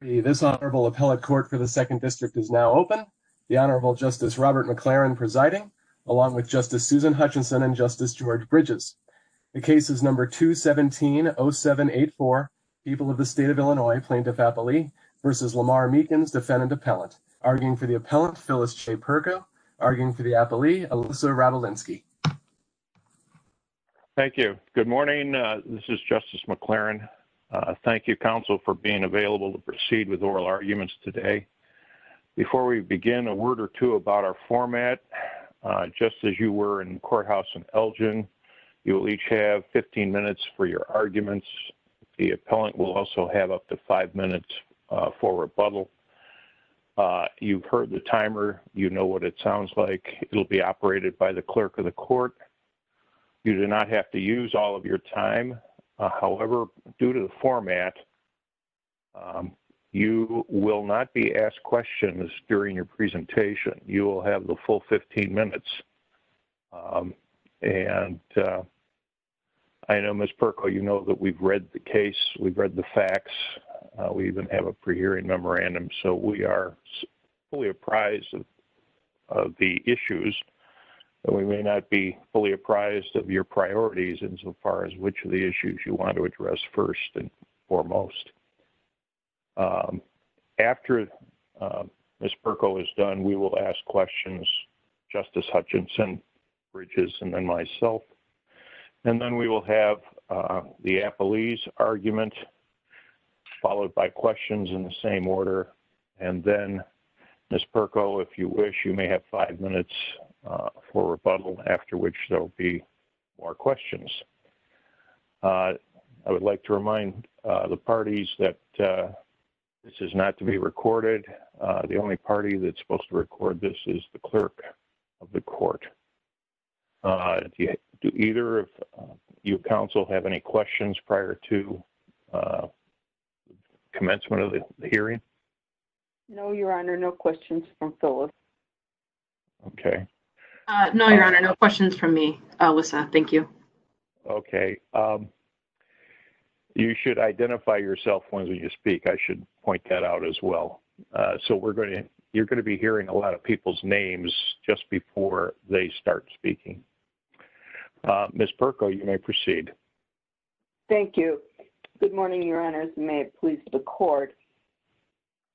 This honorable appellate court for the Second District is now open. The Honorable Justice Robert McLaren presiding, along with Justice Susan Hutchinson and Justice George Bridges. The case is number 2170784, People of the State of Illinois, Plaintiff-Appellee v. Lamar Meekins, Defendant-Appellant. Arguing for the appellant, Phyllis Che Pergo. Arguing for the appellee, Alyssa Radulinski. Thank you. Good morning. This is Justice McLaren. Thank you, counsel, for being available to proceed with oral arguments today. Before we begin, a word or two about our format. Just as you were in the courthouse in Elgin, you will each have 15 minutes for your arguments. The appellant will also have up to five minutes for rebuttal. You've heard the timer. You know what it sounds like. It will be operated by the clerk of the court. You do not have to use all of your time. However, due to the format, you will not be asked questions during your presentation. You will have the full 15 minutes. And I know, Ms. Pergo, you know that we've read the case. We've read the facts. We even have a pre-hearing memorandum. So we are fully apprised of the issues. We may not be fully apprised of your priorities insofar as which of the issues you want to address first and foremost. After Ms. Pergo is done, we will ask questions, Justice Hutchinson, Bridges, and then myself. And then we will have the appellee's argument followed by questions in the same order. And then, Ms. Pergo, if you wish, you may have five minutes for rebuttal after which there will be more questions. I would like to remind the parties that this is not to be recorded. The only party that's supposed to record this is the clerk of the office. Do either of you counsel have any questions prior to commencement of the hearing? No, Your Honor. No questions from Phyllis. Okay. No, Your Honor. No questions from me, Wissam. Thank you. Okay. You should identify yourself when you speak. I should point that out as well. So Ms. Pergo, you may proceed. Thank you. Good morning, Your Honors. May it please the Court.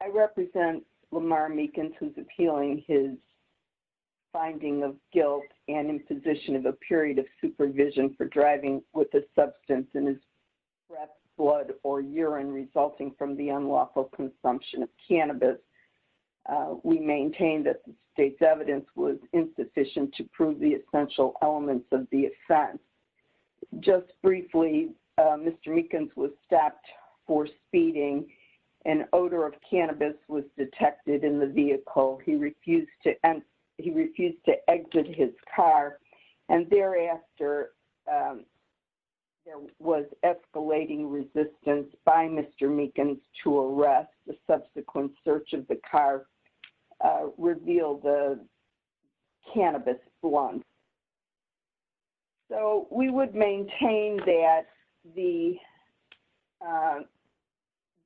I represent Lamar Meekins, who is appealing his finding of guilt and imposition of a period of supervision for driving with a substance in his breath, blood, or urine resulting from the unlawful consumption of cannabis. We maintain that the state's evidence was insufficient to prove the essential elements of the offense. Just briefly, Mr. Meekins was stopped for speeding. An odor of cannabis was detected in the vehicle. He refused to exit his car. And thereafter, there was escalating resistance by Mr. Meekins to arrest. The subsequent search of the car revealed a cannabis blunt. So we would maintain that the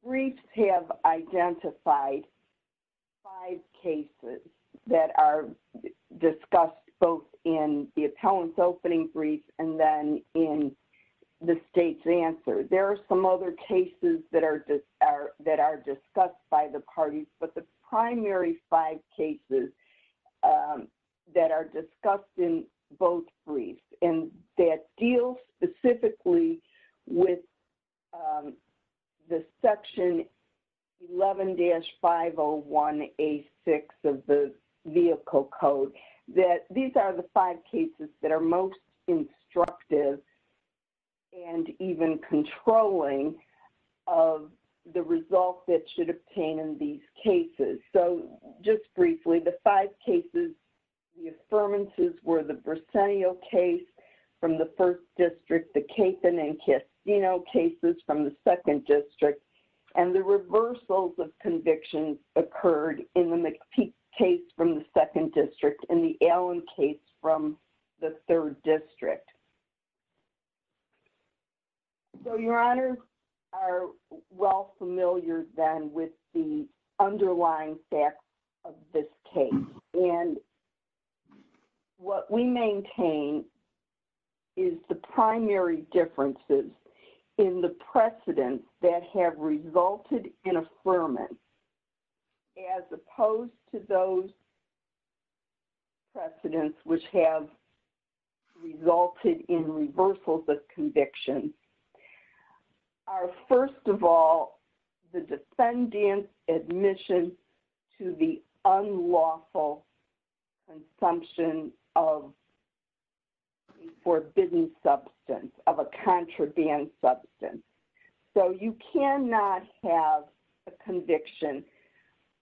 briefs have identified five cases that are discussed both in the appellant's opening brief and then in the state's answer. There are some other cases that are discussed by the parties, but the primary five cases that are discussed in both briefs and that deal specifically with the Section 11-501A6 of the Vehicle Code, that these are the five cases that are most instructive and even controlling of the results that should obtain in these cases. So, just briefly, the five cases, the affirmances were the Briseno case from the First District, the Capon and Castino cases from the Second District, and the reversals of convictions occurred in the McPeake case from the Second District and the Allen case from the Third District. So, your honors are well familiar then with the underlying facts of this case. And so, what we maintain is the primary differences in the precedents that have resulted in affirmance as opposed to those precedents which have resulted in reversals of convictions are, first of all, the defendant's admission to the unlawful consumption of forbidden substance, of a contraband substance. So, you cannot have a conviction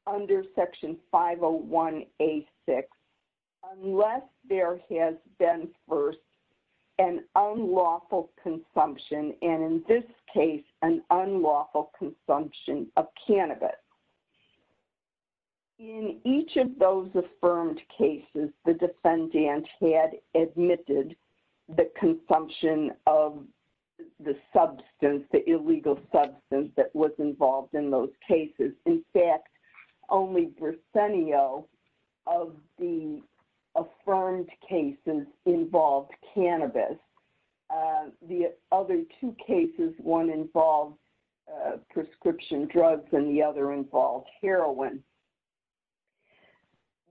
under Section 501A6 unless there has been first an unlawful consumption, and in this case, an unlawful consumption of cannabis. In each of those affirmed cases, the defendant had admitted the consumption of the substance, the illegal substance that was involved in those cases. In fact, only Briseno of the affirmed cases involved cannabis. The other two cases, one involved prescription drugs and the other involved heroin.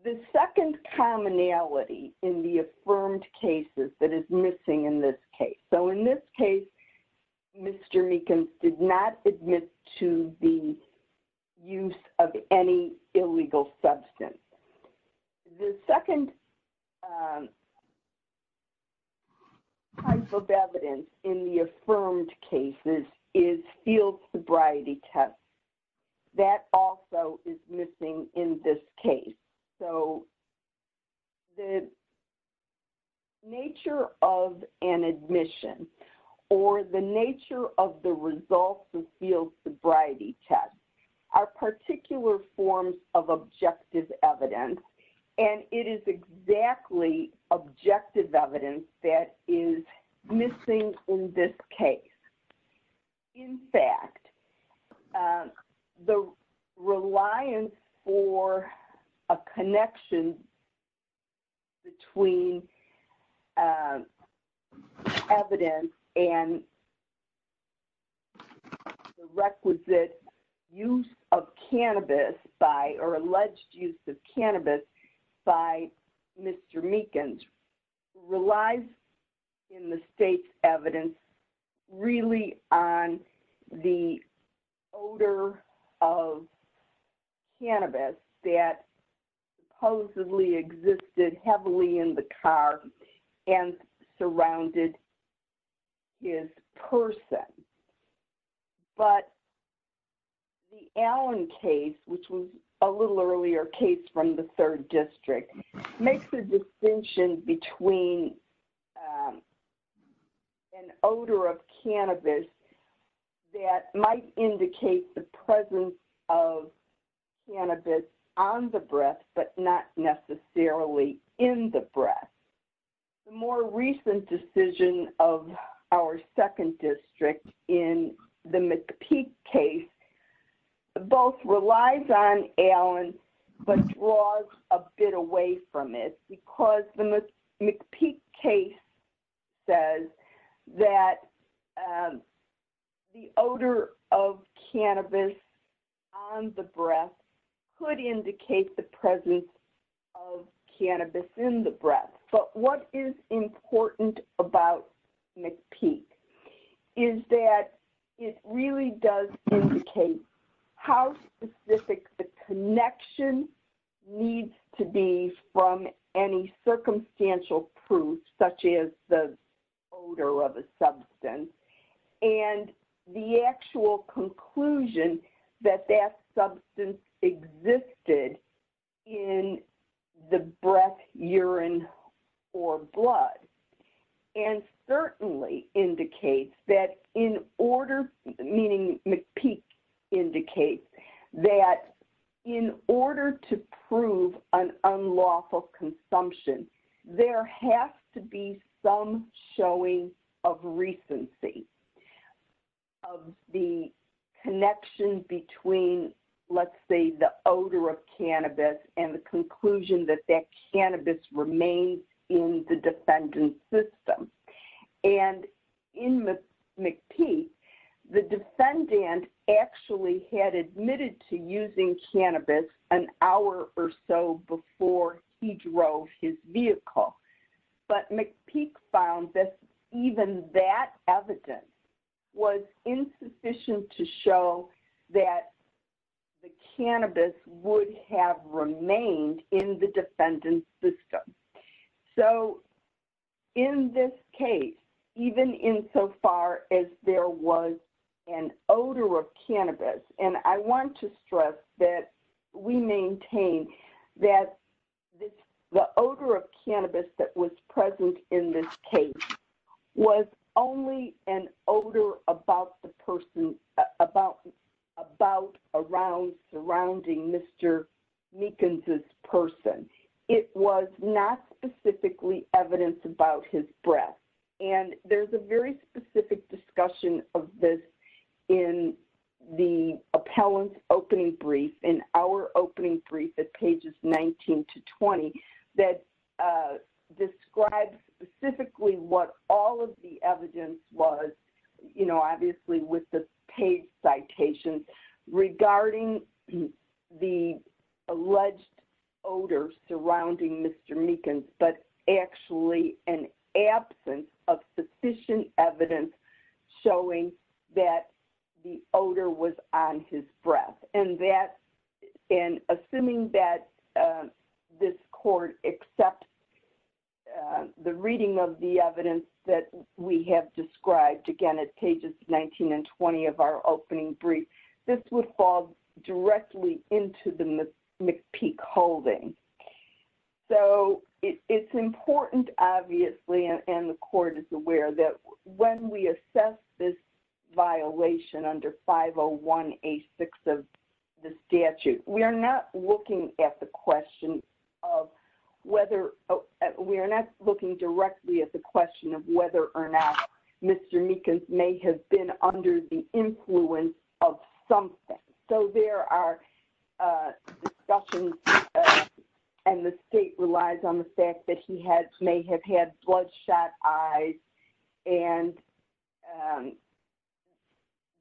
The second commonality in the affirmed cases that is missing in this case. So, in this case, Mr. Meekins did not admit to the use of any illegal substance. The second type of evidence in the affirmed cases is field sobriety tests. That also is missing in this case. So, the nature of an admission or the nature of the results of field sobriety tests are particular forms of objective evidence, and it is exactly objective evidence that is missing in this case. In fact, the reliance for a connection between evidence and the requisite use of cannabis by or alleged use of cannabis by Mr. Meekins relies in the state's evidence really on the odor of cannabis that supposedly existed heavily in the car and surrounded his person. But the Allen case, which was a little earlier case from the third district, makes the distinction between an odor of cannabis that might indicate the presence of more recent decision of our second district in the McPeak case, both relies on Allen but draws a bit away from it because the McPeak case says that the odor of cannabis on the breath could indicate the presence of cannabis in the breath. But what is important about McPeak is that it really does indicate how specific the connection needs to be from any circumstantial proof, such as the odor of a substance, and the actual conclusion that that substance existed in the breath, urine, or blood, and certainly indicates that in order, meaning McPeak indicates that in order to prove an unlawful consumption, there has to be some showing of recency of the connection between, let's say, the odor of cannabis and the conclusion that that cannabis remains in the defendant's system. And in McPeak, the defendant actually had admitted to using cannabis an hour or so before he drove his vehicle. But McPeak found that even that evidence was insufficient to show that the cannabis would have remained in the defendant's system. So in this case, even in so far as there was an odor of cannabis, and I want to stress that we maintain that the odor of cannabis that was present in this case was only an odor about the person, about, around, surrounding Mr. Meekins' person. It was not specifically evidence about his breath. And there's a very specific discussion of this in the appellant's opening brief in our opening brief at pages 19 to 20 that describes specifically what all of the evidence was, you know, obviously with the paid citations regarding the alleged odor surrounding Mr. Meekins, but actually an absence of sufficient evidence showing that the odor was on his breath. And that, and assuming that this court accepts the reading of the evidence that we have described again at pages 19 and 20 of our opening brief, this would fall directly into the McPeak holding. So it's important, obviously, and the court is aware that when we assess this violation under 501A6 of the statute, we are not looking at the question of whether, we are not looking directly at the question of whether or not Mr. Meekins may have been under the influence of something. So there are discussions, and the state relies on the fact that he had, may have had bloodshot eyes and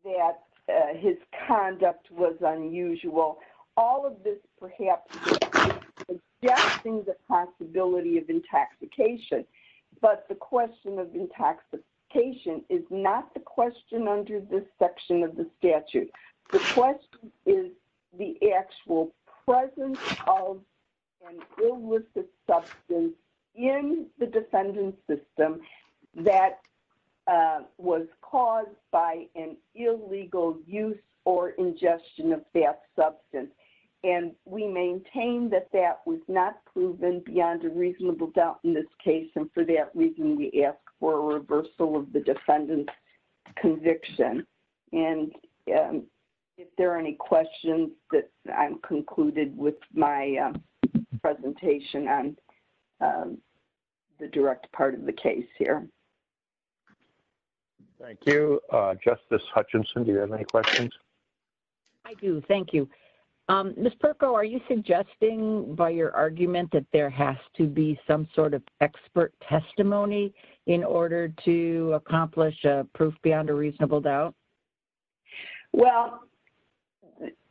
that his conduct was unusual. All of this perhaps suggests the possibility of intoxication, but the question of intoxication is not the question under this section of the statute. The question is the actual presence of an illicit substance in the defendant's system that was caused by an illegal use or ingestion of that substance. And we maintain that that was not proven beyond a reasonable doubt in this case, and for that reason, we ask for a reversal of the defendant's conviction. And if there are any questions, I'm concluded with my presentation on the direct part of the case here. Thank you. Justice Hutchinson, do you have any questions? I do, thank you. Ms. Perko, are you suggesting by your argument that there has to be some sort of expert testimony in order to accomplish a proof beyond a reasonable doubt? Well,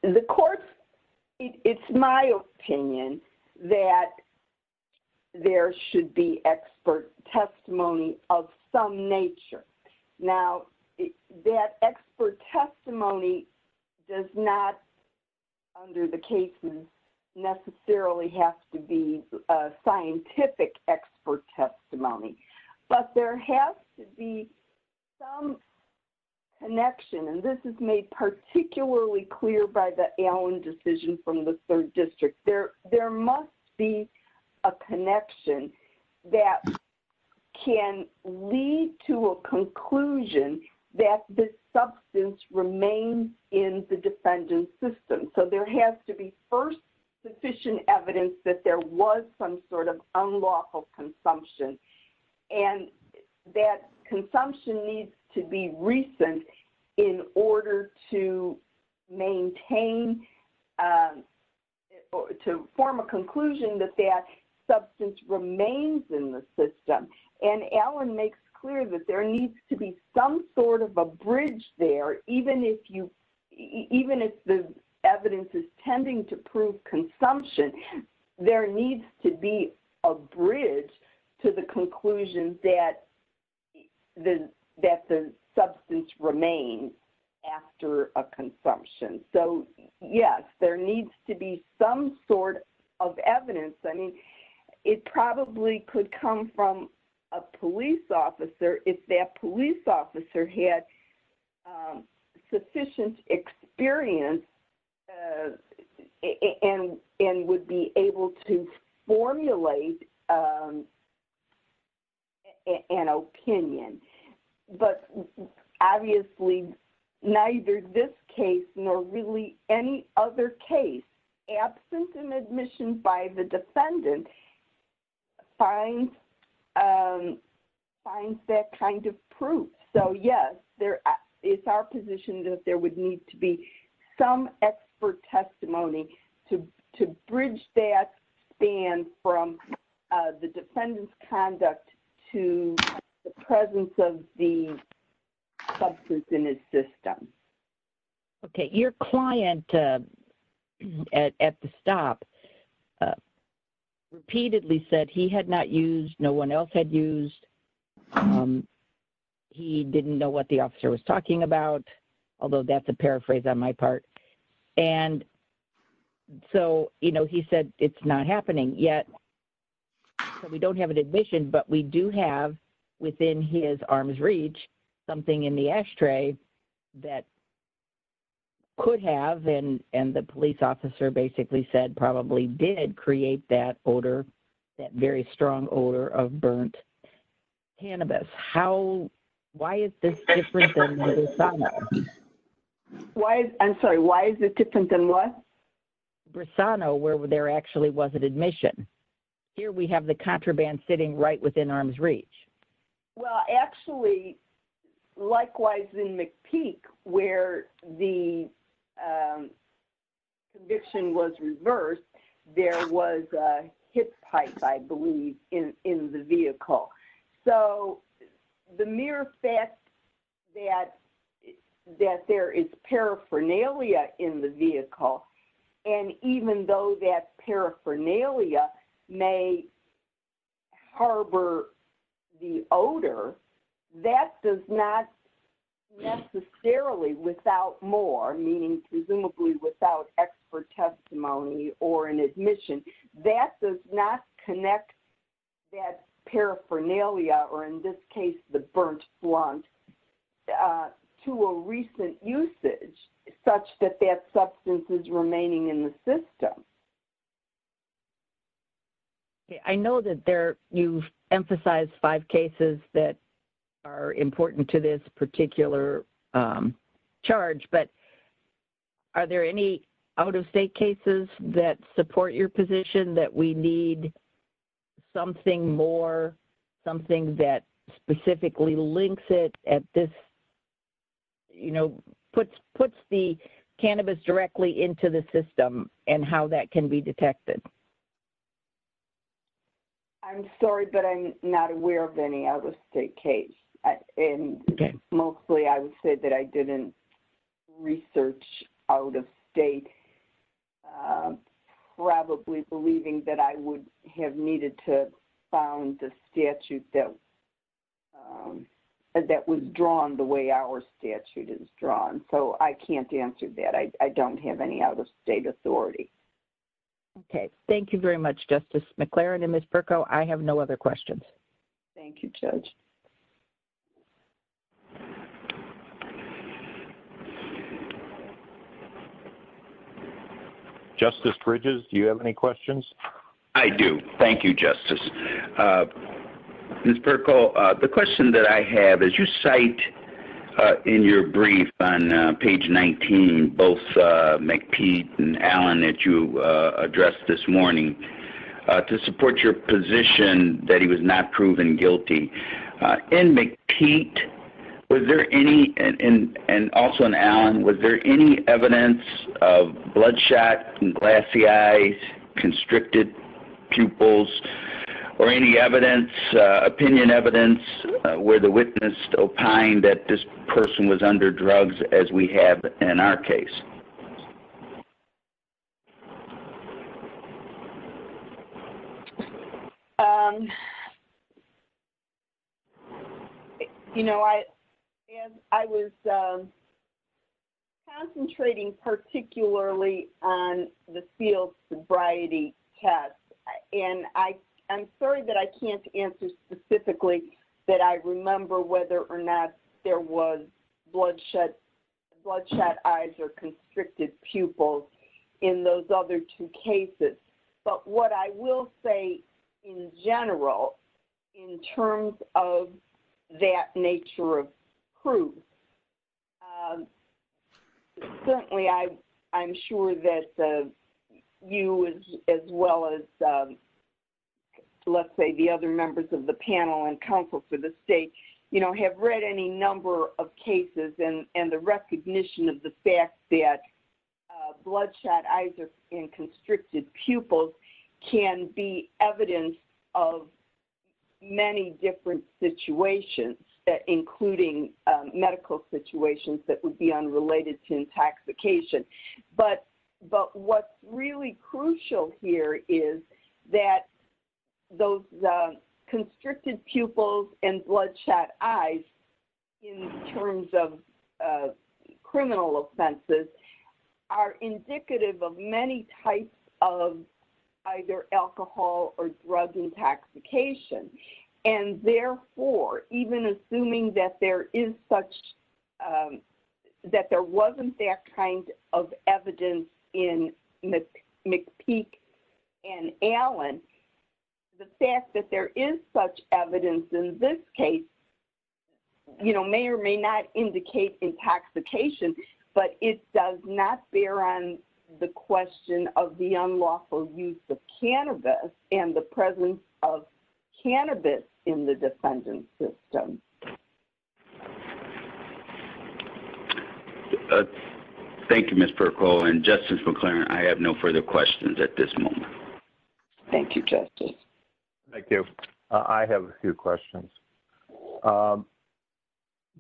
the court's, it's my opinion that there should be expert testimony of some nature. Now, that expert testimony does not, under the casement, necessarily have to be and this is made particularly clear by the Allen decision from the third district. There must be a connection that can lead to a conclusion that this substance remains in the defendant's system. So there has to be first sufficient evidence that there was some sort of unlawful consumption. And that consumption needs to be recent in order to maintain, to form a conclusion that that substance remains in the system. And Allen makes clear that there needs to be some sort of a bridge there, even if you, even if the evidence is tending to prove consumption, there needs to be a bridge to the conclusion that the substance remains after a consumption. So yes, there needs to be some sort of evidence. I mean, it probably could come from a police officer if that police officer had sufficient experience and would be able to formulate an opinion. But obviously, neither this case nor really any other case absent an admission by the defendant finds that kind of proof. So yes, it's our position that there would need to be some expert testimony to bridge that span from the defendant's conduct to the presence of the substance in his system. MARY JO GIOVACCHINI OK. Your client at the stop was repeatedly said he had not used, no one else had used. He didn't know what the officer was talking about, although that's a paraphrase on my part. And so, you know, he said it's not happening yet. So we don't have an admission, but we do have within his arm's reach something in the ashtray that could have, and the police officer basically said probably did create that odor, that very strong odor of burnt cannabis. How, why is this different than Brisano? LORRAINE CUNNINGHAM I'm sorry, why is it different than what? MARY JO GIOVACCHINI Brisano, where there actually wasn't admission. Here we have the contraband sitting right within arm's reach. LORRAINE CUNNINGHAM Well, actually, likewise in McPeak, where the conviction was reversed, there was a hit pipe, I believe, in the vehicle. So the mere fact that there is paraphernalia in the vehicle, and even though that paraphernalia may harbor the odor, that does not necessarily, without more, meaning presumably without expert testimony or an admission, that does not connect that paraphernalia, or in this case, the burnt blunt, to a recent usage such that that substance is remaining in the system. MARY JO GIOVACCHINI I know that there, you've emphasized five cases that are important to this particular charge, but are there any out-of-state cases that support your position that we need something more, something that can be detected? LORRAINE CUNNINGHAM I'm sorry, but I'm not aware of any out-of-state case. And mostly, I would say that I didn't research out-of-state, probably believing that I would have needed to have found the statute that was drawn the way our statute is drawn. So I can't answer that. I don't have any out-of-state authority. MARY JO GIOVACCHINI Okay. Thank you very much, Justice McLaren. And, Ms. Perko, I have no other questions. LORRAINE CUNNINGHAM Thank you, Judge. CHAIRMAN POWELL Justice Bridges, do you have any questions? MR. PERKO I do. Thank you, Justice. Ms. Perko, the question that I have is you cite in your brief on page 19 both McPete and Allen that you addressed this morning to support your position that he was not proven guilty. In McPete, was there any, and also in Allen, was there any evidence of bloodshot, glassy eyes, constricted pupils, or any evidence, opinion evidence, where the witness opined that this person was under drugs as we have in our case? MS. PERKO You know, I was concentrating particularly on the field sobriety test. And I'm sorry that I can't answer specifically that I remember whether or not there was bloodshot eyes or constricted pupils in those other two cases. But what I will say in general, in terms of that nature of proof, certainly I'm sure that you as well as, let's say, the other members of the panel and counsel for the state, you know, have read any number of cases and the recognition of the fact that bloodshot eyes and constricted pupils can be evidence of many different situations, including medical situations that would be unrelated to intoxication. But what's really crucial here is that those constricted pupils and bloodshot eyes, in terms of criminal offenses, are indicative of many types of either alcohol or drug intoxication. And therefore, even assuming that there is such, that there wasn't that kind of evidence in McPeak and Allen, the fact that there is such evidence in this case, you know, may or may not indicate intoxication, but it does not bear on the question of the unlawful use of cannabis and the presence of cannabis in the defendant's system. Thank you, Ms. Perko. And Justice McLaren, I have no further questions at this moment. Thank you, Justice. Thank you. I have a few questions.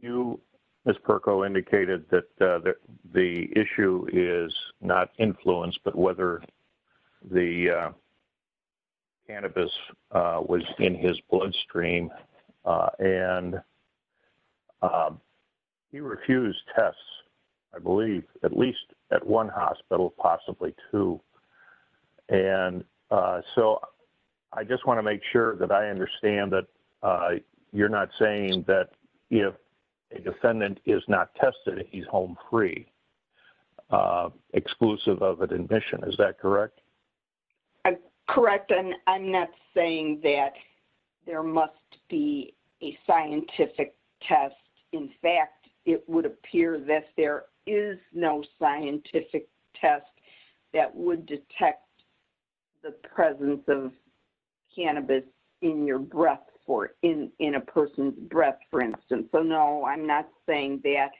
You, Ms. Perko, indicated that the issue is not influence, but whether the cannabis was in his bloodstream. And he refused tests, I believe, at least at one time. And I just want to make sure that I understand that you're not saying that if a defendant is not tested, he's home free, exclusive of an admission. Is that correct? Correct. And I'm not saying that there must be a scientific test. In fact, it would appear that there is no scientific test that would detect the presence of cannabis in your breath or in a person's breath, for instance. So, no, I'm not saying that.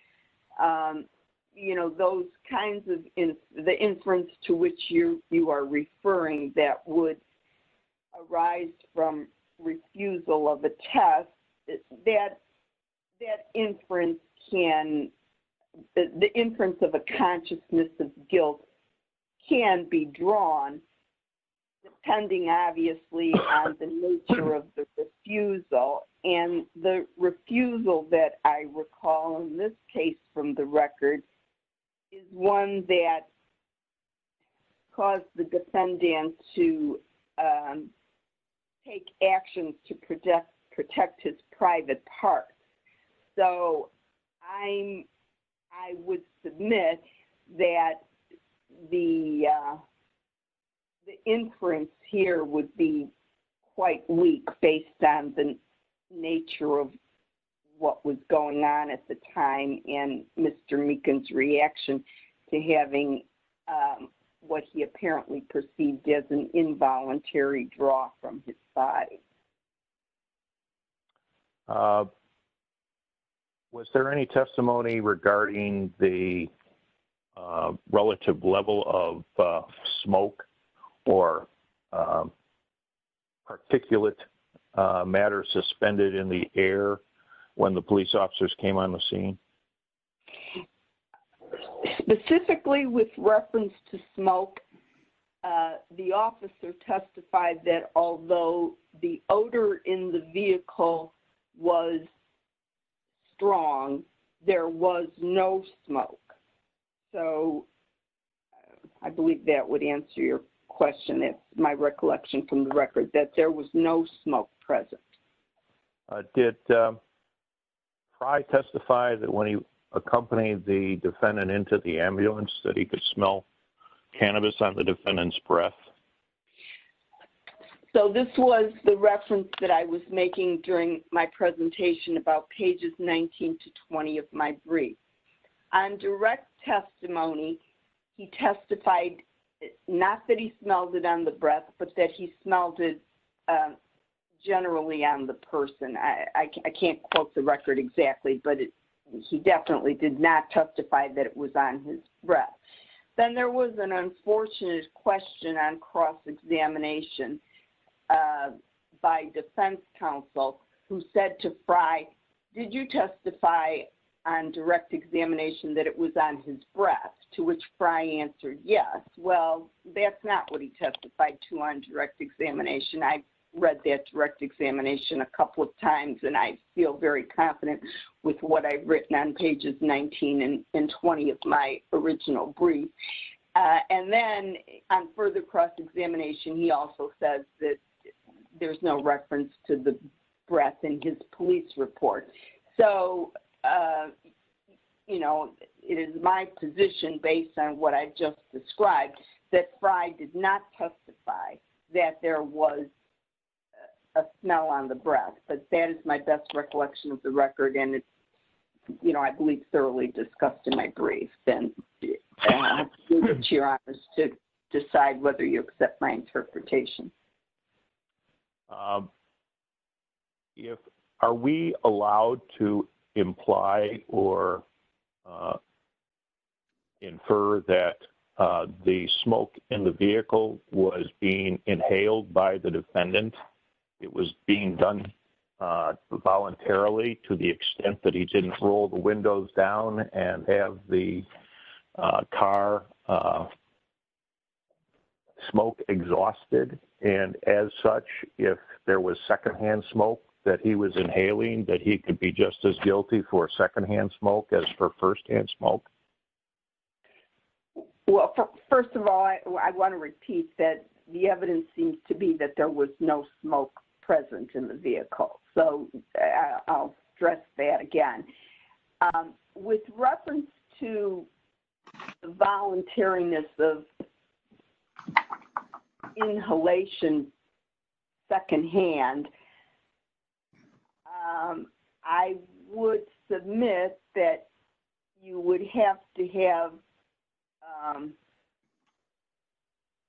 You know, those kinds of the inference to which you are referring that would arise from refusal of a test, that inference can the inference of a consciousness of guilt can be drawn, depending, obviously, on the nature of the refusal. And the refusal that I recall in this case from the record, is one that caused the defendant to take actions to protect his private parts. So, I would submit that the inference here would be quite weak based on the nature of what was going on at the time and Mr. Meekin's reaction to having what he apparently perceived as an involuntary draw from his body. Was there any testimony regarding the relative level of smoke or particulate matter suspended in the air when the police officers came on the scene? Specifically, with reference to smoke, the officer testified that although the odor in the vehicle was strong, there was no smoke. So, I believe that would answer your question, my recollection from the record, that there was no smoke present. Did Fry testify that when he accompanied the defendant into the ambulance that he could smell cannabis on the defendant's breath? So, this was the reference that I was making during my presentation about pages 19 to 20 of my brief. On direct testimony, he testified not that he smelled it on the breath, but that he smelled it generally on the person. I can't quote the record exactly, but he definitely did not testify that it was on his breath. Then there was an unfortunate question on cross-examination by defense counsel who said to Fry, did you testify on direct examination that it was on his breath? To which Fry answered yes. Well, that's not what he testified to on direct examination. I read that direct examination a couple of times and I feel very confident with what I've written on pages 19 and 20 of my original brief. And then on further cross-examination, he also says that there's no reference to the breath in his police report. So, you know, it is my position based on what I just described that Fry did not testify that there was a smell on the breath. But that is my best recollection of the record. And it's, you know, I believe thoroughly discussed in my brief. And I'll leave it to your honors to decide whether you accept my interpretation. If, are we allowed to imply or infer that the smoke in the vehicle was being inhaled by the defendant? It was being done voluntarily to the extent that he didn't roll the windows down and have the car smoke exhausted. And as such, if there was secondhand smoke that he was inhaling, that he could be just as guilty for secondhand smoke as for firsthand smoke? Well, first of all, I want to repeat that the evidence seems to be that there was no smoke present in the vehicle. So, I'll stress that again. With reference to the voluntariness of inhalation secondhand, I would submit that you would have to have,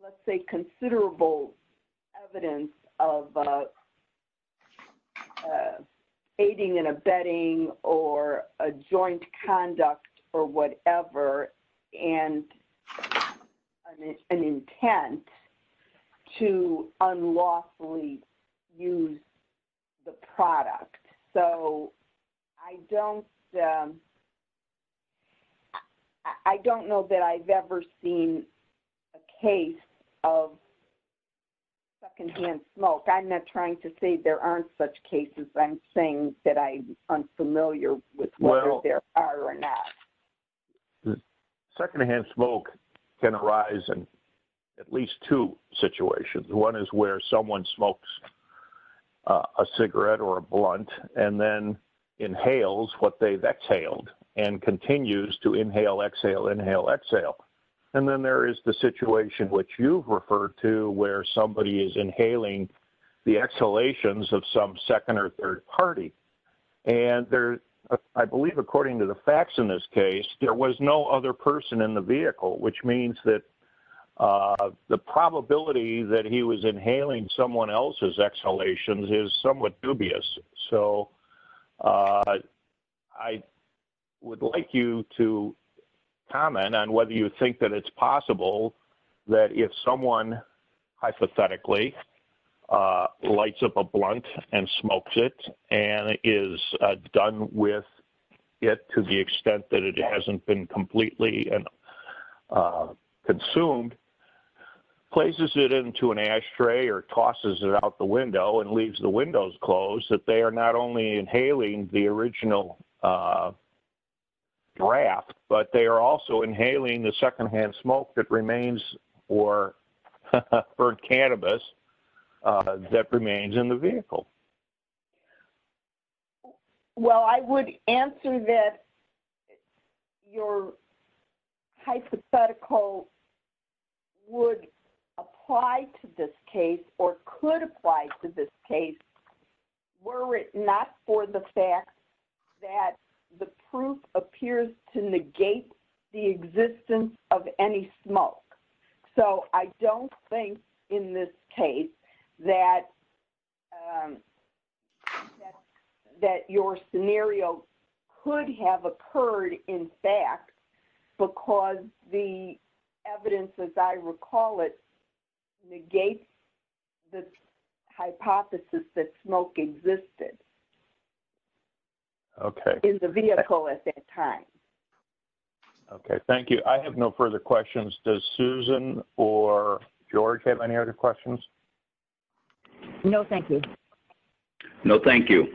let's say, considerable evidence of aiding and abetting or a joint conduct or whatever and an intent to unlawfully use the product. So, I don't know that I've ever seen a case of secondhand smoke. I'm not trying to say there aren't such cases. I'm saying that I'm unfamiliar with whether there are or not. Secondhand smoke can arise in at least two situations. One is where someone smokes a cigarette or a blunt and then inhales what they've exhaled and continues to inhale, exhale, inhale, exhale. And then there is the situation which you've referred to where somebody is inhaling the exhalations of some second or third party. And I believe according to the facts in this case, there was no other person in the vehicle, which means that the probability that he was inhaling someone else's exhalations is somewhat dubious. So, I would like you to comment on whether you think that it's possible that if someone hypothetically lights up a blunt and smokes it and is done with it to the extent that it hasn't been completely and consumed, places it into an ashtray or tosses it out the window and leaves the windows closed, that they are not only inhaling the original draft, but they are also inhaling the secondhand smoke that remains or burned cannabis that remains in the vehicle. Well, I would answer that your hypothetical would apply to this case or could apply to this case were it not for the fact that the proof appears to negate the existence of any smoke. So, I don't think in this case that your scenario could have occurred, in fact, because the evidence, as I recall it, negates the hypothesis that smoke existed in the vehicle at that time. Okay. Thank you. I have no further questions. Does Susan or George have any other questions? No, thank you. No, thank you.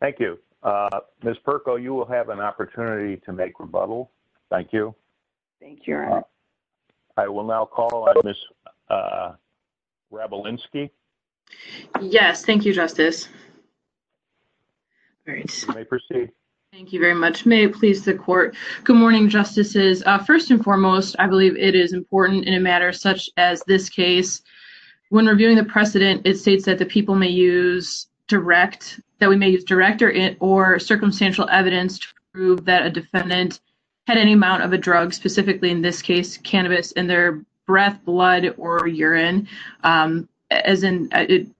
Thank you. Ms. Perko, you will have an opportunity to make rebuttal. Thank you. Thank you. I will now call on Ms. Wrabelinski. Yes. Thank you, Justice. All right. You may proceed. Thank you very much. May it please the Court. Good morning, Justices. First and foremost, I believe it is important in a matter such as this case, when reviewing the precedent, it states that the people may use direct, that we may use direct or circumstantial evidence to prove that a defendant had any amount of a drug, specifically in this case cannabis, in their breath, blood, or urine. As in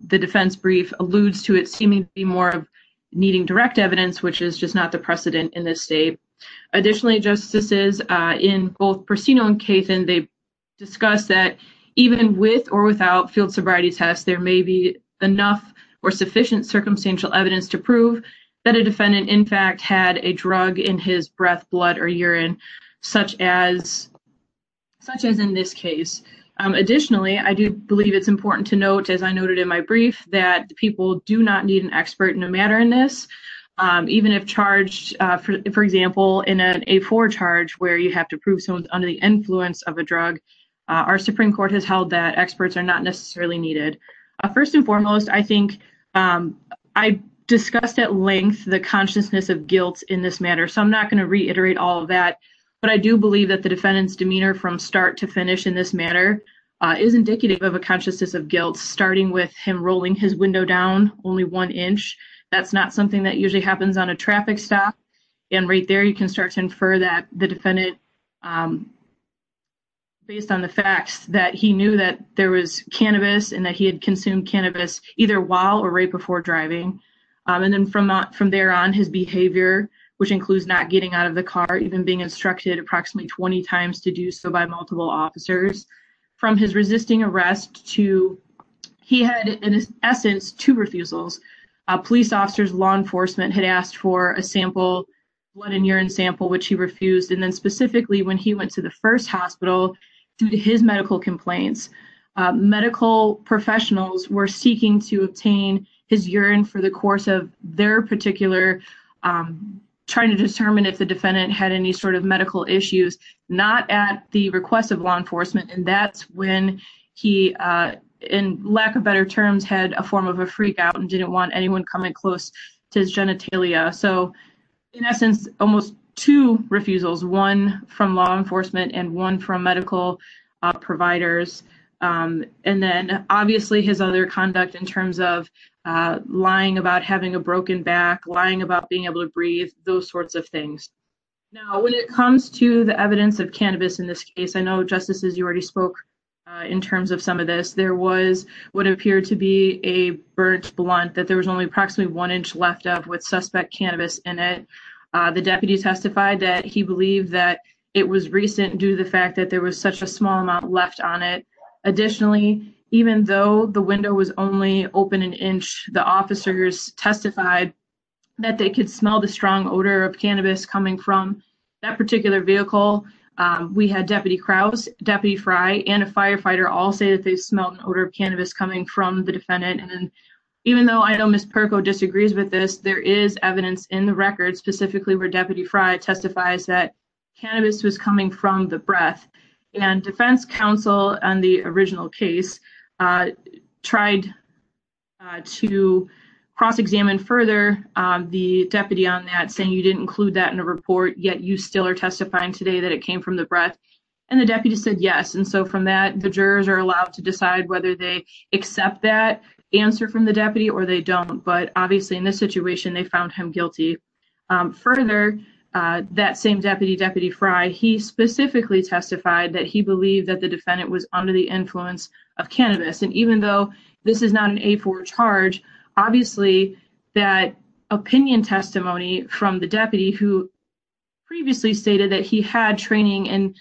the defense brief alludes to it seemingly more of needing direct evidence, which is just not the precedent in this state. Additionally, Justices, in both Prostino and Cathan, they discuss that even with or without field sobriety tests, there may be enough or sufficient circumstantial evidence to prove that a defendant, in fact, had a drug in his breath, blood, or urine, such as in this case. Additionally, I do believe it's important to note, as I noted in my brief, that people do not need an expert in a matter in this, even if charged, for example, in an A4 charge where you have to prove someone's under the influence of a drug. Our Supreme Court has held that experts are not necessarily needed. First and foremost, I think I discussed at length the consciousness of guilt in this matter, so I'm not going to reiterate all of that, but I do believe that the defendant's demeanor from start to finish in this matter is indicative of a consciousness of guilt, starting with him rolling his window down only one inch. That's not something that usually happens on a traffic stop, and right there you can start to infer that the defendant, based on the facts, that he knew that there was cannabis and that he had consumed cannabis either while or right before driving, and then from there on his behavior, which includes not getting out of the car, even being instructed approximately 20 times to do so by multiple officers, from his resisting arrest to he had, in essence, two refusals. A police officer's law enforcement had asked for a sample, blood and urine sample, which he refused, and then specifically when he went to the first hospital due to his medical complaints, medical professionals were seeking to obtain his urine for the course of their particular, trying to determine if the defendant had any sort of medical issues, not at the request of law enforcement, and that's when he, in lack of better terms, had a form of a freak out and didn't want anyone coming close to his genitalia, so in essence, almost two refusals, one from law enforcement and one from medical providers, and then obviously his other conduct in terms of lying about having a broken back, lying about being able to breathe, those sorts of things. Now, when it comes to the evidence of cannabis in this case, I know, Justices, you already spoke in terms of some of this, there was what appeared to be a burnt blunt that there was only approximately one inch left of with suspect cannabis in it. The deputy testified that he believed that it was recent due to the fact that there was such a small amount left on it. Additionally, even though the window was only open an inch, the officers testified that they could smell the strong odor of cannabis coming from that particular vehicle. We had Deputy Krause, Deputy Frye, and a firefighter all say that they smelled an odor of cannabis coming from the defendant, and even though I know Ms. Perko disagrees with this, there is evidence in the record specifically where Deputy Frye testifies that cannabis was coming from the breath, and defense counsel on the original case tried to cross-examine further the deputy on that, saying you didn't include that in a report, yet you still are testifying today that it came from the breath, and the deputy said yes, and so from that, the jurors are allowed to decide whether they accept that answer from the deputy or they don't, but obviously in this situation, they found him guilty. Further, that same deputy, Deputy Frye, he specifically testified that he believed that the defendant was under the influence of cannabis, and even though this is not an A4 charge, obviously that opinion testimony from the deputy who previously stated that he had training in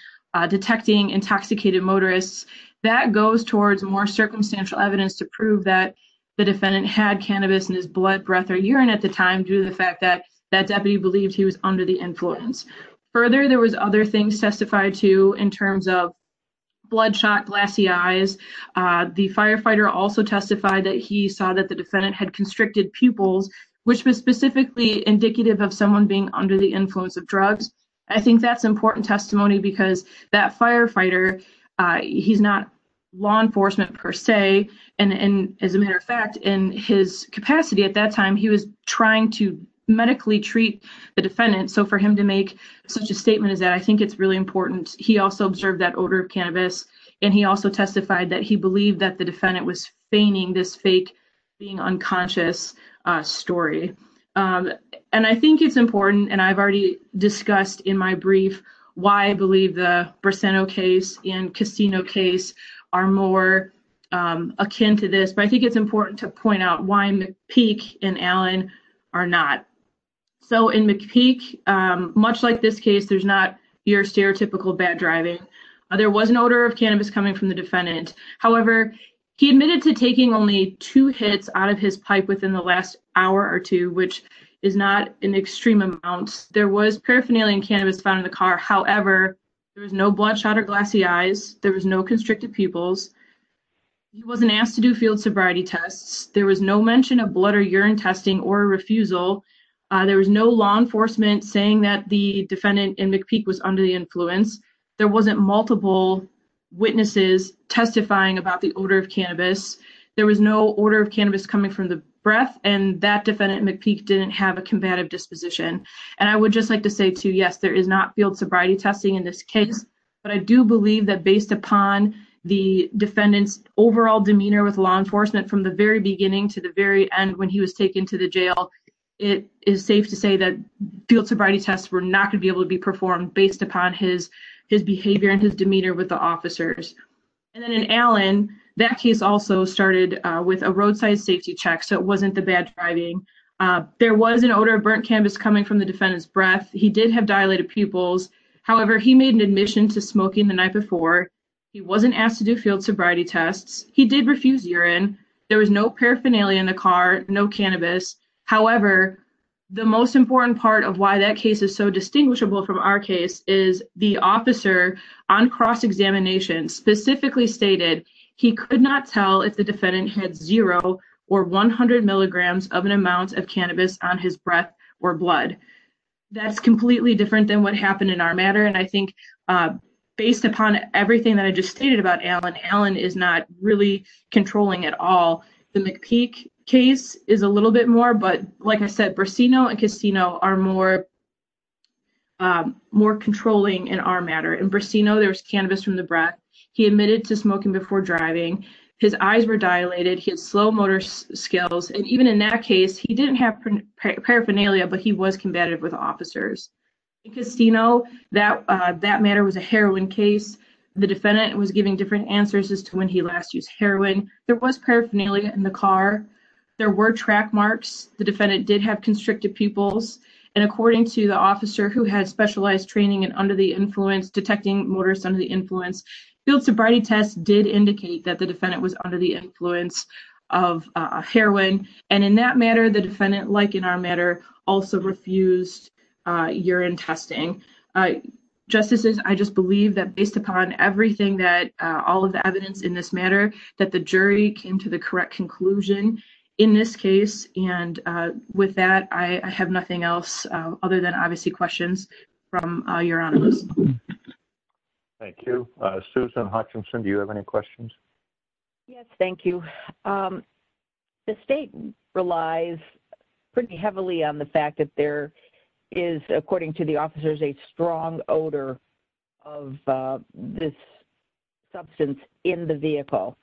detecting intoxicated motorists, that goes towards more circumstantial evidence to prove that the defendant had cannabis in his blood, breath, or urine at the time due to the fact that that deputy believed he was under the influence. Further, there was other things testified to in terms of bloodshot, glassy eyes. The firefighter also testified that he saw that the defendant had constricted pupils, which was specifically indicative of someone being under the influence of drugs. I think that's important testimony because that firefighter, he's not law enforcement per se, and as a matter of fact, in his capacity at that time, he was trying to medically treat the defendant, so for him to make such a statement is that I think it's really important. He also observed that odor of cannabis, and he also testified that he believed that the defendant was feigning this fake being unconscious story, and I think it's important, and I've already discussed in my brief why I believe the Braceno case and Castino case are more akin to this, but I think it's important to point out why McPeak and Allen are not. So in McPeak, much like this case, there's not your stereotypical bad driving. There was an odor of cannabis coming from the defendant. However, he admitted to taking only two hits out of his pipe within the last hour or two, which is not an extreme amount. There was paraphernalia in cannabis found in the car. However, there was no bloodshot or glassy eyes. There was no constricted pupils. He wasn't asked to do field sobriety tests. There was no mention of blood or urine testing or refusal. There was no law enforcement saying that the defendant in McPeak was under the influence. There wasn't multiple witnesses testifying about the odor of cannabis. There was no odor of cannabis coming from the breath, and that defendant, McPeak, didn't have a combative disposition. And I would just like to say, too, yes, there is not field sobriety testing in this case, but I do believe that based upon the defendant's overall demeanor with law enforcement from the very beginning to the very end when he was taken to the jail, it is safe to say that field sobriety tests were not going to be able to be performed based upon his behavior and his demeanor with the officers. And then in Allen, that case also started with a roadside safety check, so it wasn't the bad driving. There was an odor of burnt cannabis coming from the defendant's breath. He did have dilated pupils. However, he made an admission to smoking the night before. He wasn't asked to do field sobriety tests. He did refuse urine. There was no paraphernalia in the car, no cannabis. However, the most important part of why that case is so distinguishable from our case is the officer on cross-examination specifically stated he could not tell if the defendant had zero or 100 milligrams of an amount of cannabis on his breath or blood. That's completely different than what happened in our matter. And I think based upon everything that I just stated about Allen, Allen is not really controlling at all. The McPeak case is a little bit more, but like I said, Brasino and Castino are more controlling in our matter. In Brasino, there was cannabis from the breath. He admitted to smoking before driving. His eyes were dilated. He had slow motor skills. And even in that case, he didn't have paraphernalia, but he was combative with officers. In Castino, that matter was a heroin case. The defendant was giving different marks. The defendant did have constricted pupils. And according to the officer who had specialized training and under the influence, detecting motorists under the influence, field sobriety tests did indicate that the defendant was under the influence of heroin. And in that matter, the defendant, like in our matter, also refused urine testing. Justices, I just believe that based upon everything that, all of the evidence in this matter, that the jury came to the correct conclusion in this case. And with that, I have nothing else other than obviously questions from Your Honor. Thank you. Susan Hutchinson, do you have any questions? Yes, thank you. The state relies pretty heavily on the fact that there is, according to the officers, a strong odor of this substance in the vehicle.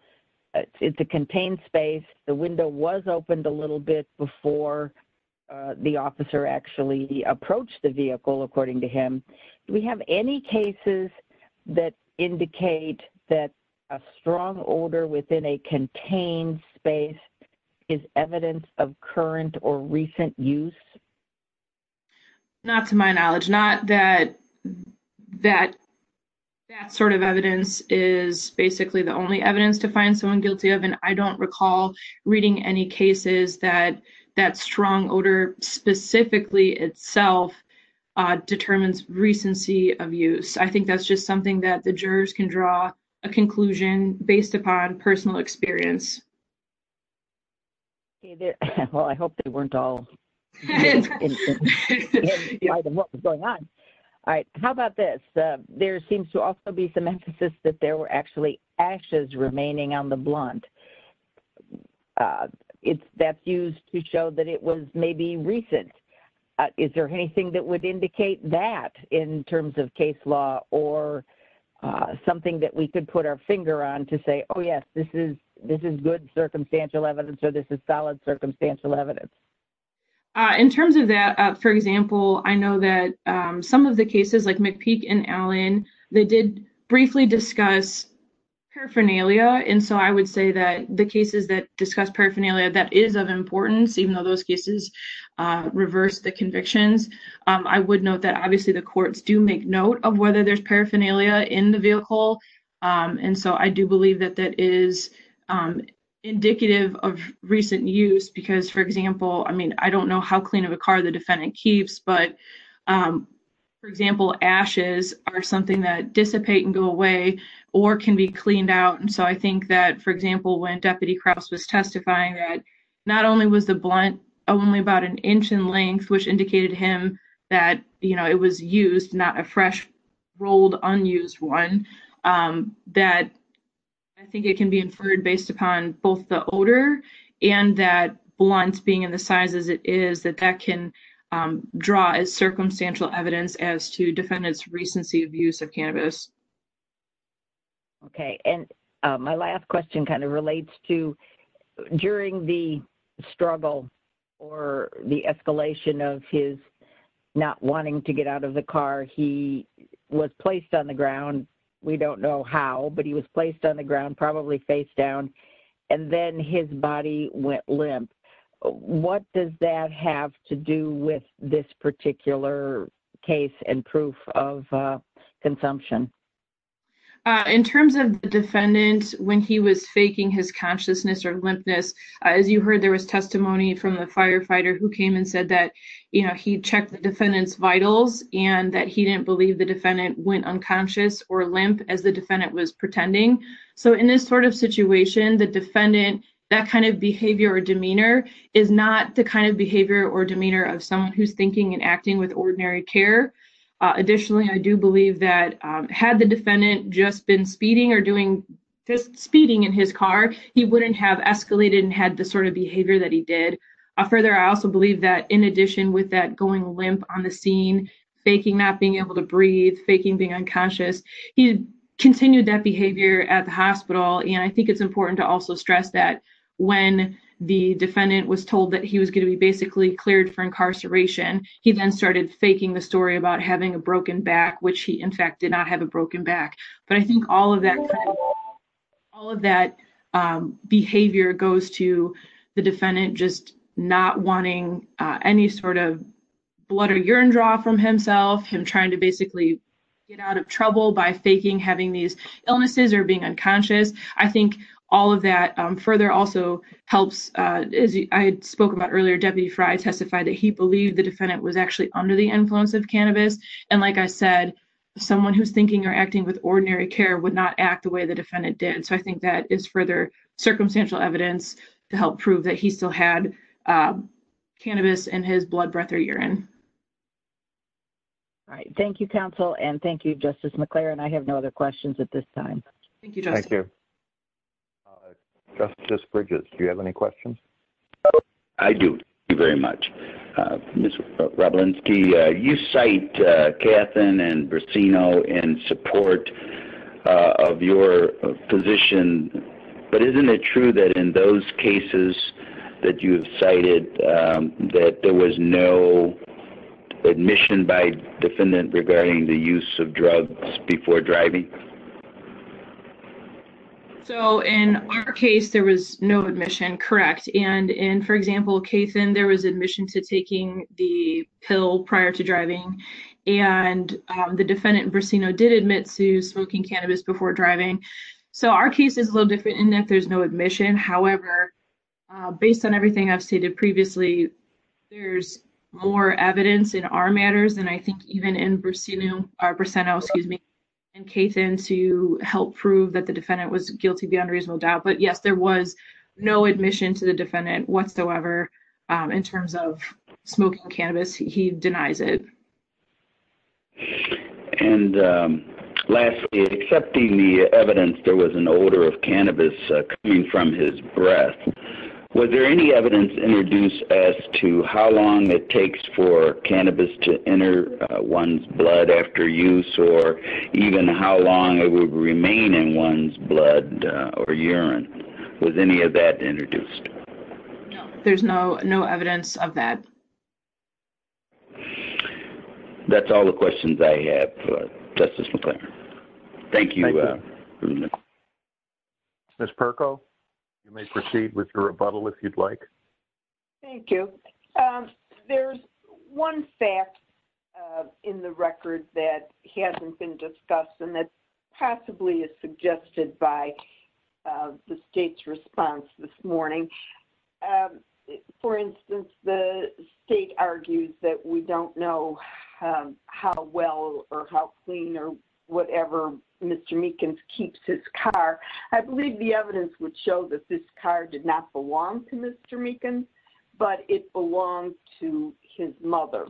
It's a contained space. The window was opened a little bit before the officer actually approached the vehicle, according to him. Do we have any cases that indicate that a strong odor within a contained space is evidence of current or recent use? Not to my knowledge. Not that that sort of evidence is basically the only evidence to find someone guilty of. And I don't recall reading any cases that that strong odor specifically itself determines recency of use. I think that's just something that the jurors can draw a conclusion based upon personal experience. Well, I hope they weren't all innocent. All right. How about this? There seems to also be some emphasis that there were actually ashes remaining on the blunt. That's used to show that it was maybe recent. Is there anything that would indicate that in terms of case law or something that we could put our finger on to say, oh, yes, this is good circumstantial evidence or this is solid circumstantial evidence? In terms of that, for example, I know that some of the cases like McPeak and Allen, they did briefly discuss paraphernalia. And so I would say that the cases that discuss paraphernalia, that is of importance, even though those cases reverse the convictions. I would note that obviously the courts do make note of whether there's paraphernalia in the vehicle. And so I believe that that is indicative of recent use. Because, for example, I mean, I don't know how clean of a car the defendant keeps. But, for example, ashes are something that dissipate and go away or can be cleaned out. And so I think that, for example, when Deputy Kraus was testifying that not only was the blunt only about an inch in length, which indicated him that it was used, not a fresh rolled unused one, that I think it can be inferred based upon both the odor and that blunt being in the size as it is that that can draw as circumstantial evidence as to defendant's recency of use of cannabis. Okay. And my last question kind of relates to during the struggle or the escalation of his not wanting to get out of the car. He was placed on the ground. We don't know how, but he was placed on the ground, probably face down. And then his body went limp. What does that have to do with this particular case and proof of consumption? In terms of the defendant, when he was faking his consciousness or limpness, as you heard, there was testimony from the firefighter who came and said that, you know, he checked the defendant's vitals and that he didn't believe the defendant went unconscious or limp as the defendant was pretending. So in this sort of situation, the defendant, that kind of behavior or demeanor is not the kind of behavior or demeanor of someone who's thinking and acting with ordinary care. Additionally, I do believe that had the defendant just been speeding or doing speeding in his car, he wouldn't have escalated and had the sort of with that going limp on the scene, faking not being able to breathe, faking being unconscious. He continued that behavior at the hospital. And I think it's important to also stress that when the defendant was told that he was going to be basically cleared for incarceration, he then started faking the story about having a broken back, which he, in fact, did not have a broken back. But I think all of that, all of that behavior goes to the defendant just not wanting any sort of blood or urine draw from himself, him trying to basically get out of trouble by faking having these illnesses or being unconscious. I think all of that further also helps, as I spoke about earlier, Deputy Fry testified that he believed the defendant was actually under the influence of cannabis. And like I said, someone who's thinking or acting with ordinary care would not act the way the defendant did. So I think that is further circumstantial evidence to help prove that he still had cannabis in his blood, breath, or urine. All right. Thank you, counsel. And thank you, Justice McClure. And I have no other questions at this time. Thank you. Thank you. Justice Bridges, do you have any questions? I do. Thank you very much. Ms. Wroblewski, you cite Kathryn and Bracino in support of your position. But isn't it true that in those cases that you have cited, that there was no admission by defendant regarding the use of drugs before driving? So in our case, there was no admission, correct. And in, for example, Kathryn, there was admission to taking the pill prior to driving. And the defendant, Bracino, did admit to smoking cannabis before driving. So our case is a little different in that there's no admission. However, based on everything I've stated previously, there's more evidence in our matters than I think even in Bracino, or Bracino, excuse me, and Kathryn to help prove that the defendant was guilty beyond reasonable doubt. But yes, there was no admission to the defendant whatsoever in terms of smoking cannabis. He denies it. And lastly, accepting the evidence there was an odor of cannabis coming from his breath, was there any evidence introduced as to how long it takes for urine? Was any of that introduced? No, there's no evidence of that. That's all the questions I have, Justice McClaren. Thank you. Ms. Perko, you may proceed with your rebuttal if you'd like. Thank you. There's one fact in the record that hasn't been discussed and that possibly is the state's response this morning. For instance, the state argues that we don't know how well or how clean or whatever Mr. Meekins keeps his car. I believe the evidence would show that this car did not belong to Mr. Meekins, but it belonged to his mother.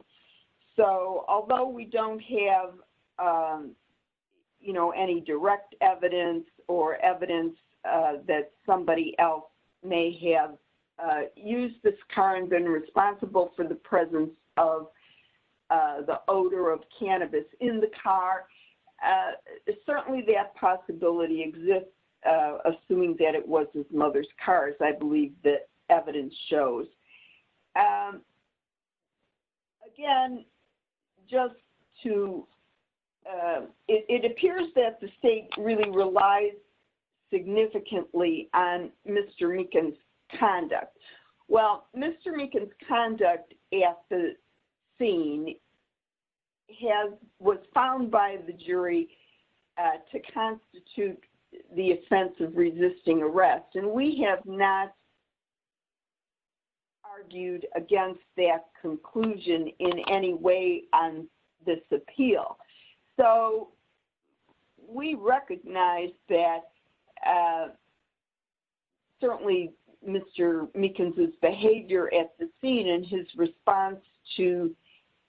So although we that somebody else may have used this car and been responsible for the presence of the odor of cannabis in the car, certainly that possibility exists, assuming that it was his mother's car, as I believe the evidence shows. Again, it appears that the state really relies significantly on Mr. Meekins' conduct. Mr. Meekins' conduct at the scene was found by the jury to constitute the offense of resisting arrest, and we have not argued against that conclusion in any way on this appeal. So we recognize that certainly Mr. Meekins' behavior at the scene and his response to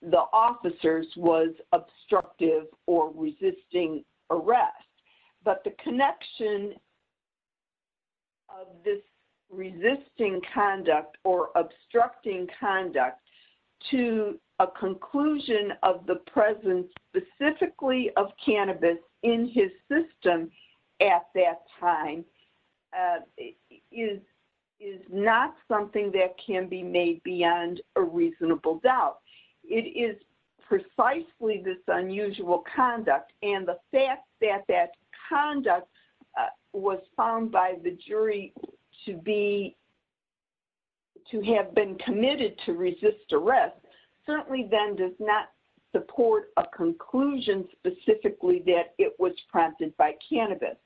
the officers was obstructive or resisting arrest. But the connection of this resisting conduct or obstructing conduct to a conclusion of the presence specifically of cannabis in his system at that time is not something that can be made beyond a reasonable doubt. It is precisely this unusual conduct, and the fact that that conduct was found by the jury to have been committed to resist arrest certainly then does not support a conclusion specifically that it was prompted by cannabis.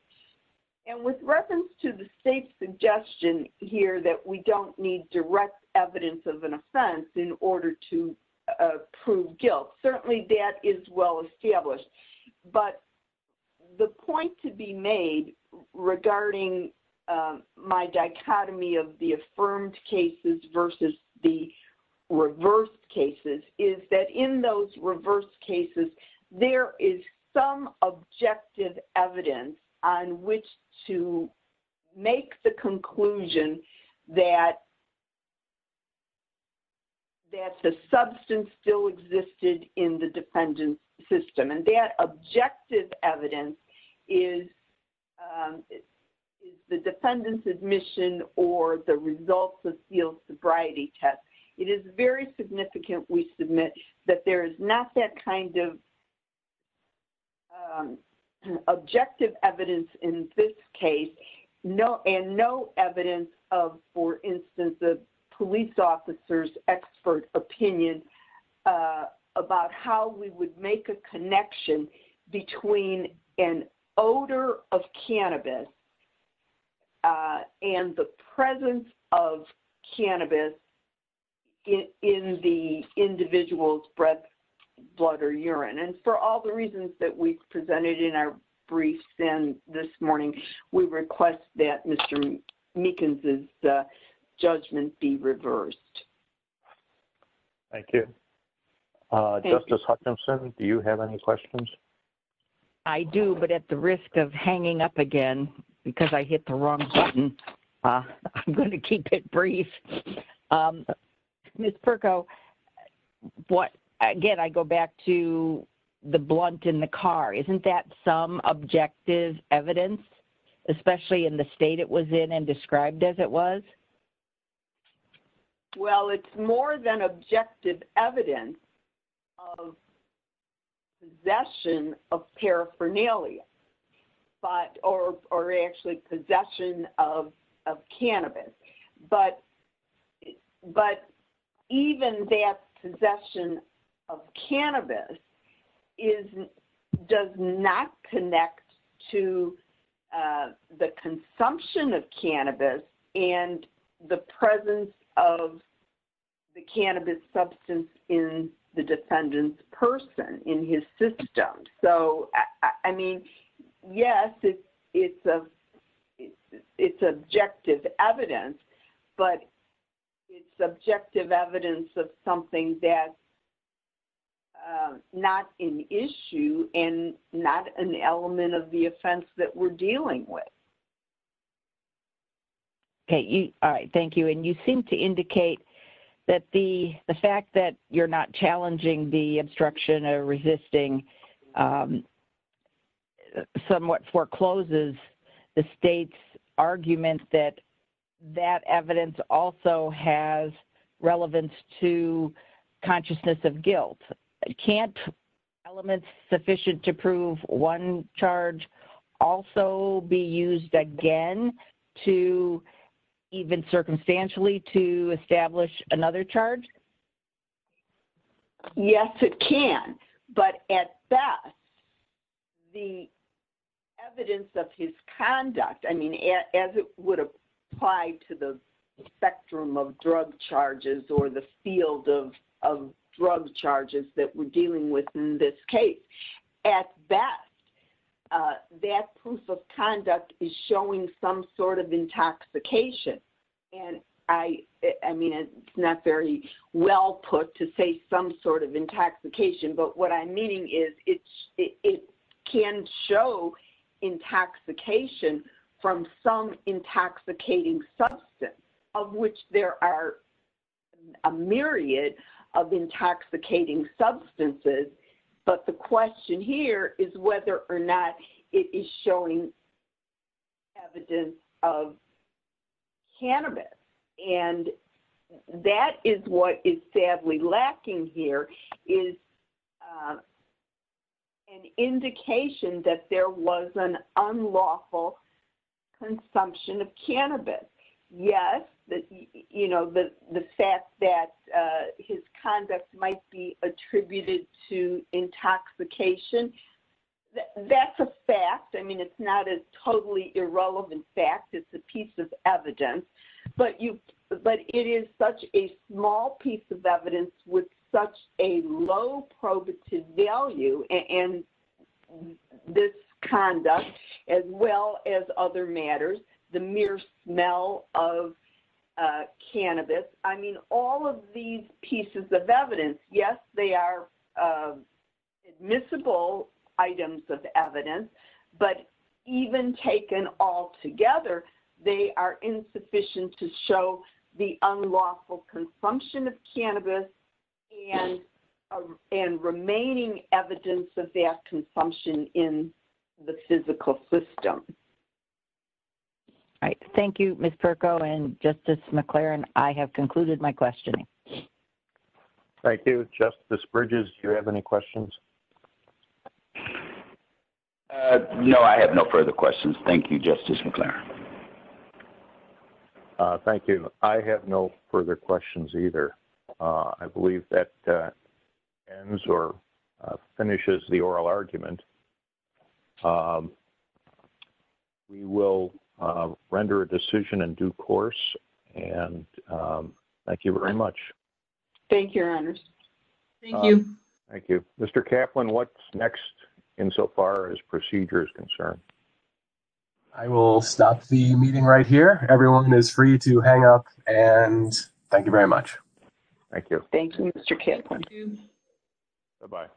And with reference to the state's suggestion here that we don't need direct evidence of an offense in order to prove guilt, certainly that is well established. But the point to be made regarding my dichotomy of the affirmed cases versus the reversed cases is that in those reversed cases, there is some objective evidence on which to make the conclusion that the substance still existed in the defendant's system, and that objective evidence is the defendant's admission or the results of the sobriety test. It is very significant we submit that there is not that kind of objective evidence in this case and no evidence of, for instance, the police officer's expert opinion about how we would make a connection between an odor of cannabis and the presence of in our briefs. And this morning, we request that Mr. Meekins' judgment be reversed. Thank you. Justice Hutchinson, do you have any questions? I do, but at the risk of hanging up again because I hit the wrong button, I'm going to keep it brief. Ms. Perko, again, I go back to the blunt in the car. Isn't that some objective evidence, especially in the state it was in and described as it was? Well, it's more than objective evidence of possession of paraphernalia or actually possession of cannabis. But even that possession of cannabis does not connect to the consumption of cannabis and the presence of the cannabis substance in the defendant's person, in his system. So, I mean, yes, it's objective evidence, but it's subjective evidence of something that's not an issue and not an element of the offense that we're dealing with. Okay. All right. Thank you. And you seem to indicate that the fact that you're not resisting somewhat forecloses the state's argument that that evidence also has relevance to consciousness of guilt. Can't elements sufficient to prove one charge also be used again to even circumstantially to establish another charge? Yes, it can. But at best, the evidence of his conduct, I mean, as it would apply to the spectrum of drug charges or the field of drug charges that we're dealing with in this case, at best, that proof of conduct is showing some sort of intoxication. And I mean, it's not very well put to say some sort of intoxication. But what I'm meaning is it can show intoxication from some intoxicating substance, of which there are a myriad of intoxicating substances. But the question here is whether or not it is showing evidence of cannabis. And that is what is sadly lacking here is an indication that there was an unlawful consumption of cannabis. Yes, you know, the fact that his conduct might be attributed to intoxication. That's a fact. I mean, it's not a totally irrelevant fact. It's a piece of evidence. But it is such a small piece of evidence with such a low probative value in this conduct, as well as other matters, the mere smell of cannabis. I mean, all of these pieces of evidence, yes, they are admissible items of evidence. But even taken all together, they are insufficient to show the unlawful consumption of cannabis and remaining evidence of that consumption in the physical system. All right. Thank you, Ms. Perko and Justice McLaren. I have concluded my questioning. Thank you, Justice Bridges. Do you have any questions? No, I have no further questions. Thank you, Justice McLaren. Thank you. I have no further questions either. I believe that ends or finishes the oral argument. We will render a decision in due course. And thank you very much. Thank you, Your Honors. Thank you. Thank you. Mr. Kaplan, what's next insofar as procedure is concerned? I will stop the meeting right here. Everyone is free to hang up. And thank you very much. Thank you. Thank you, Mr. Kaplan. Bye-bye.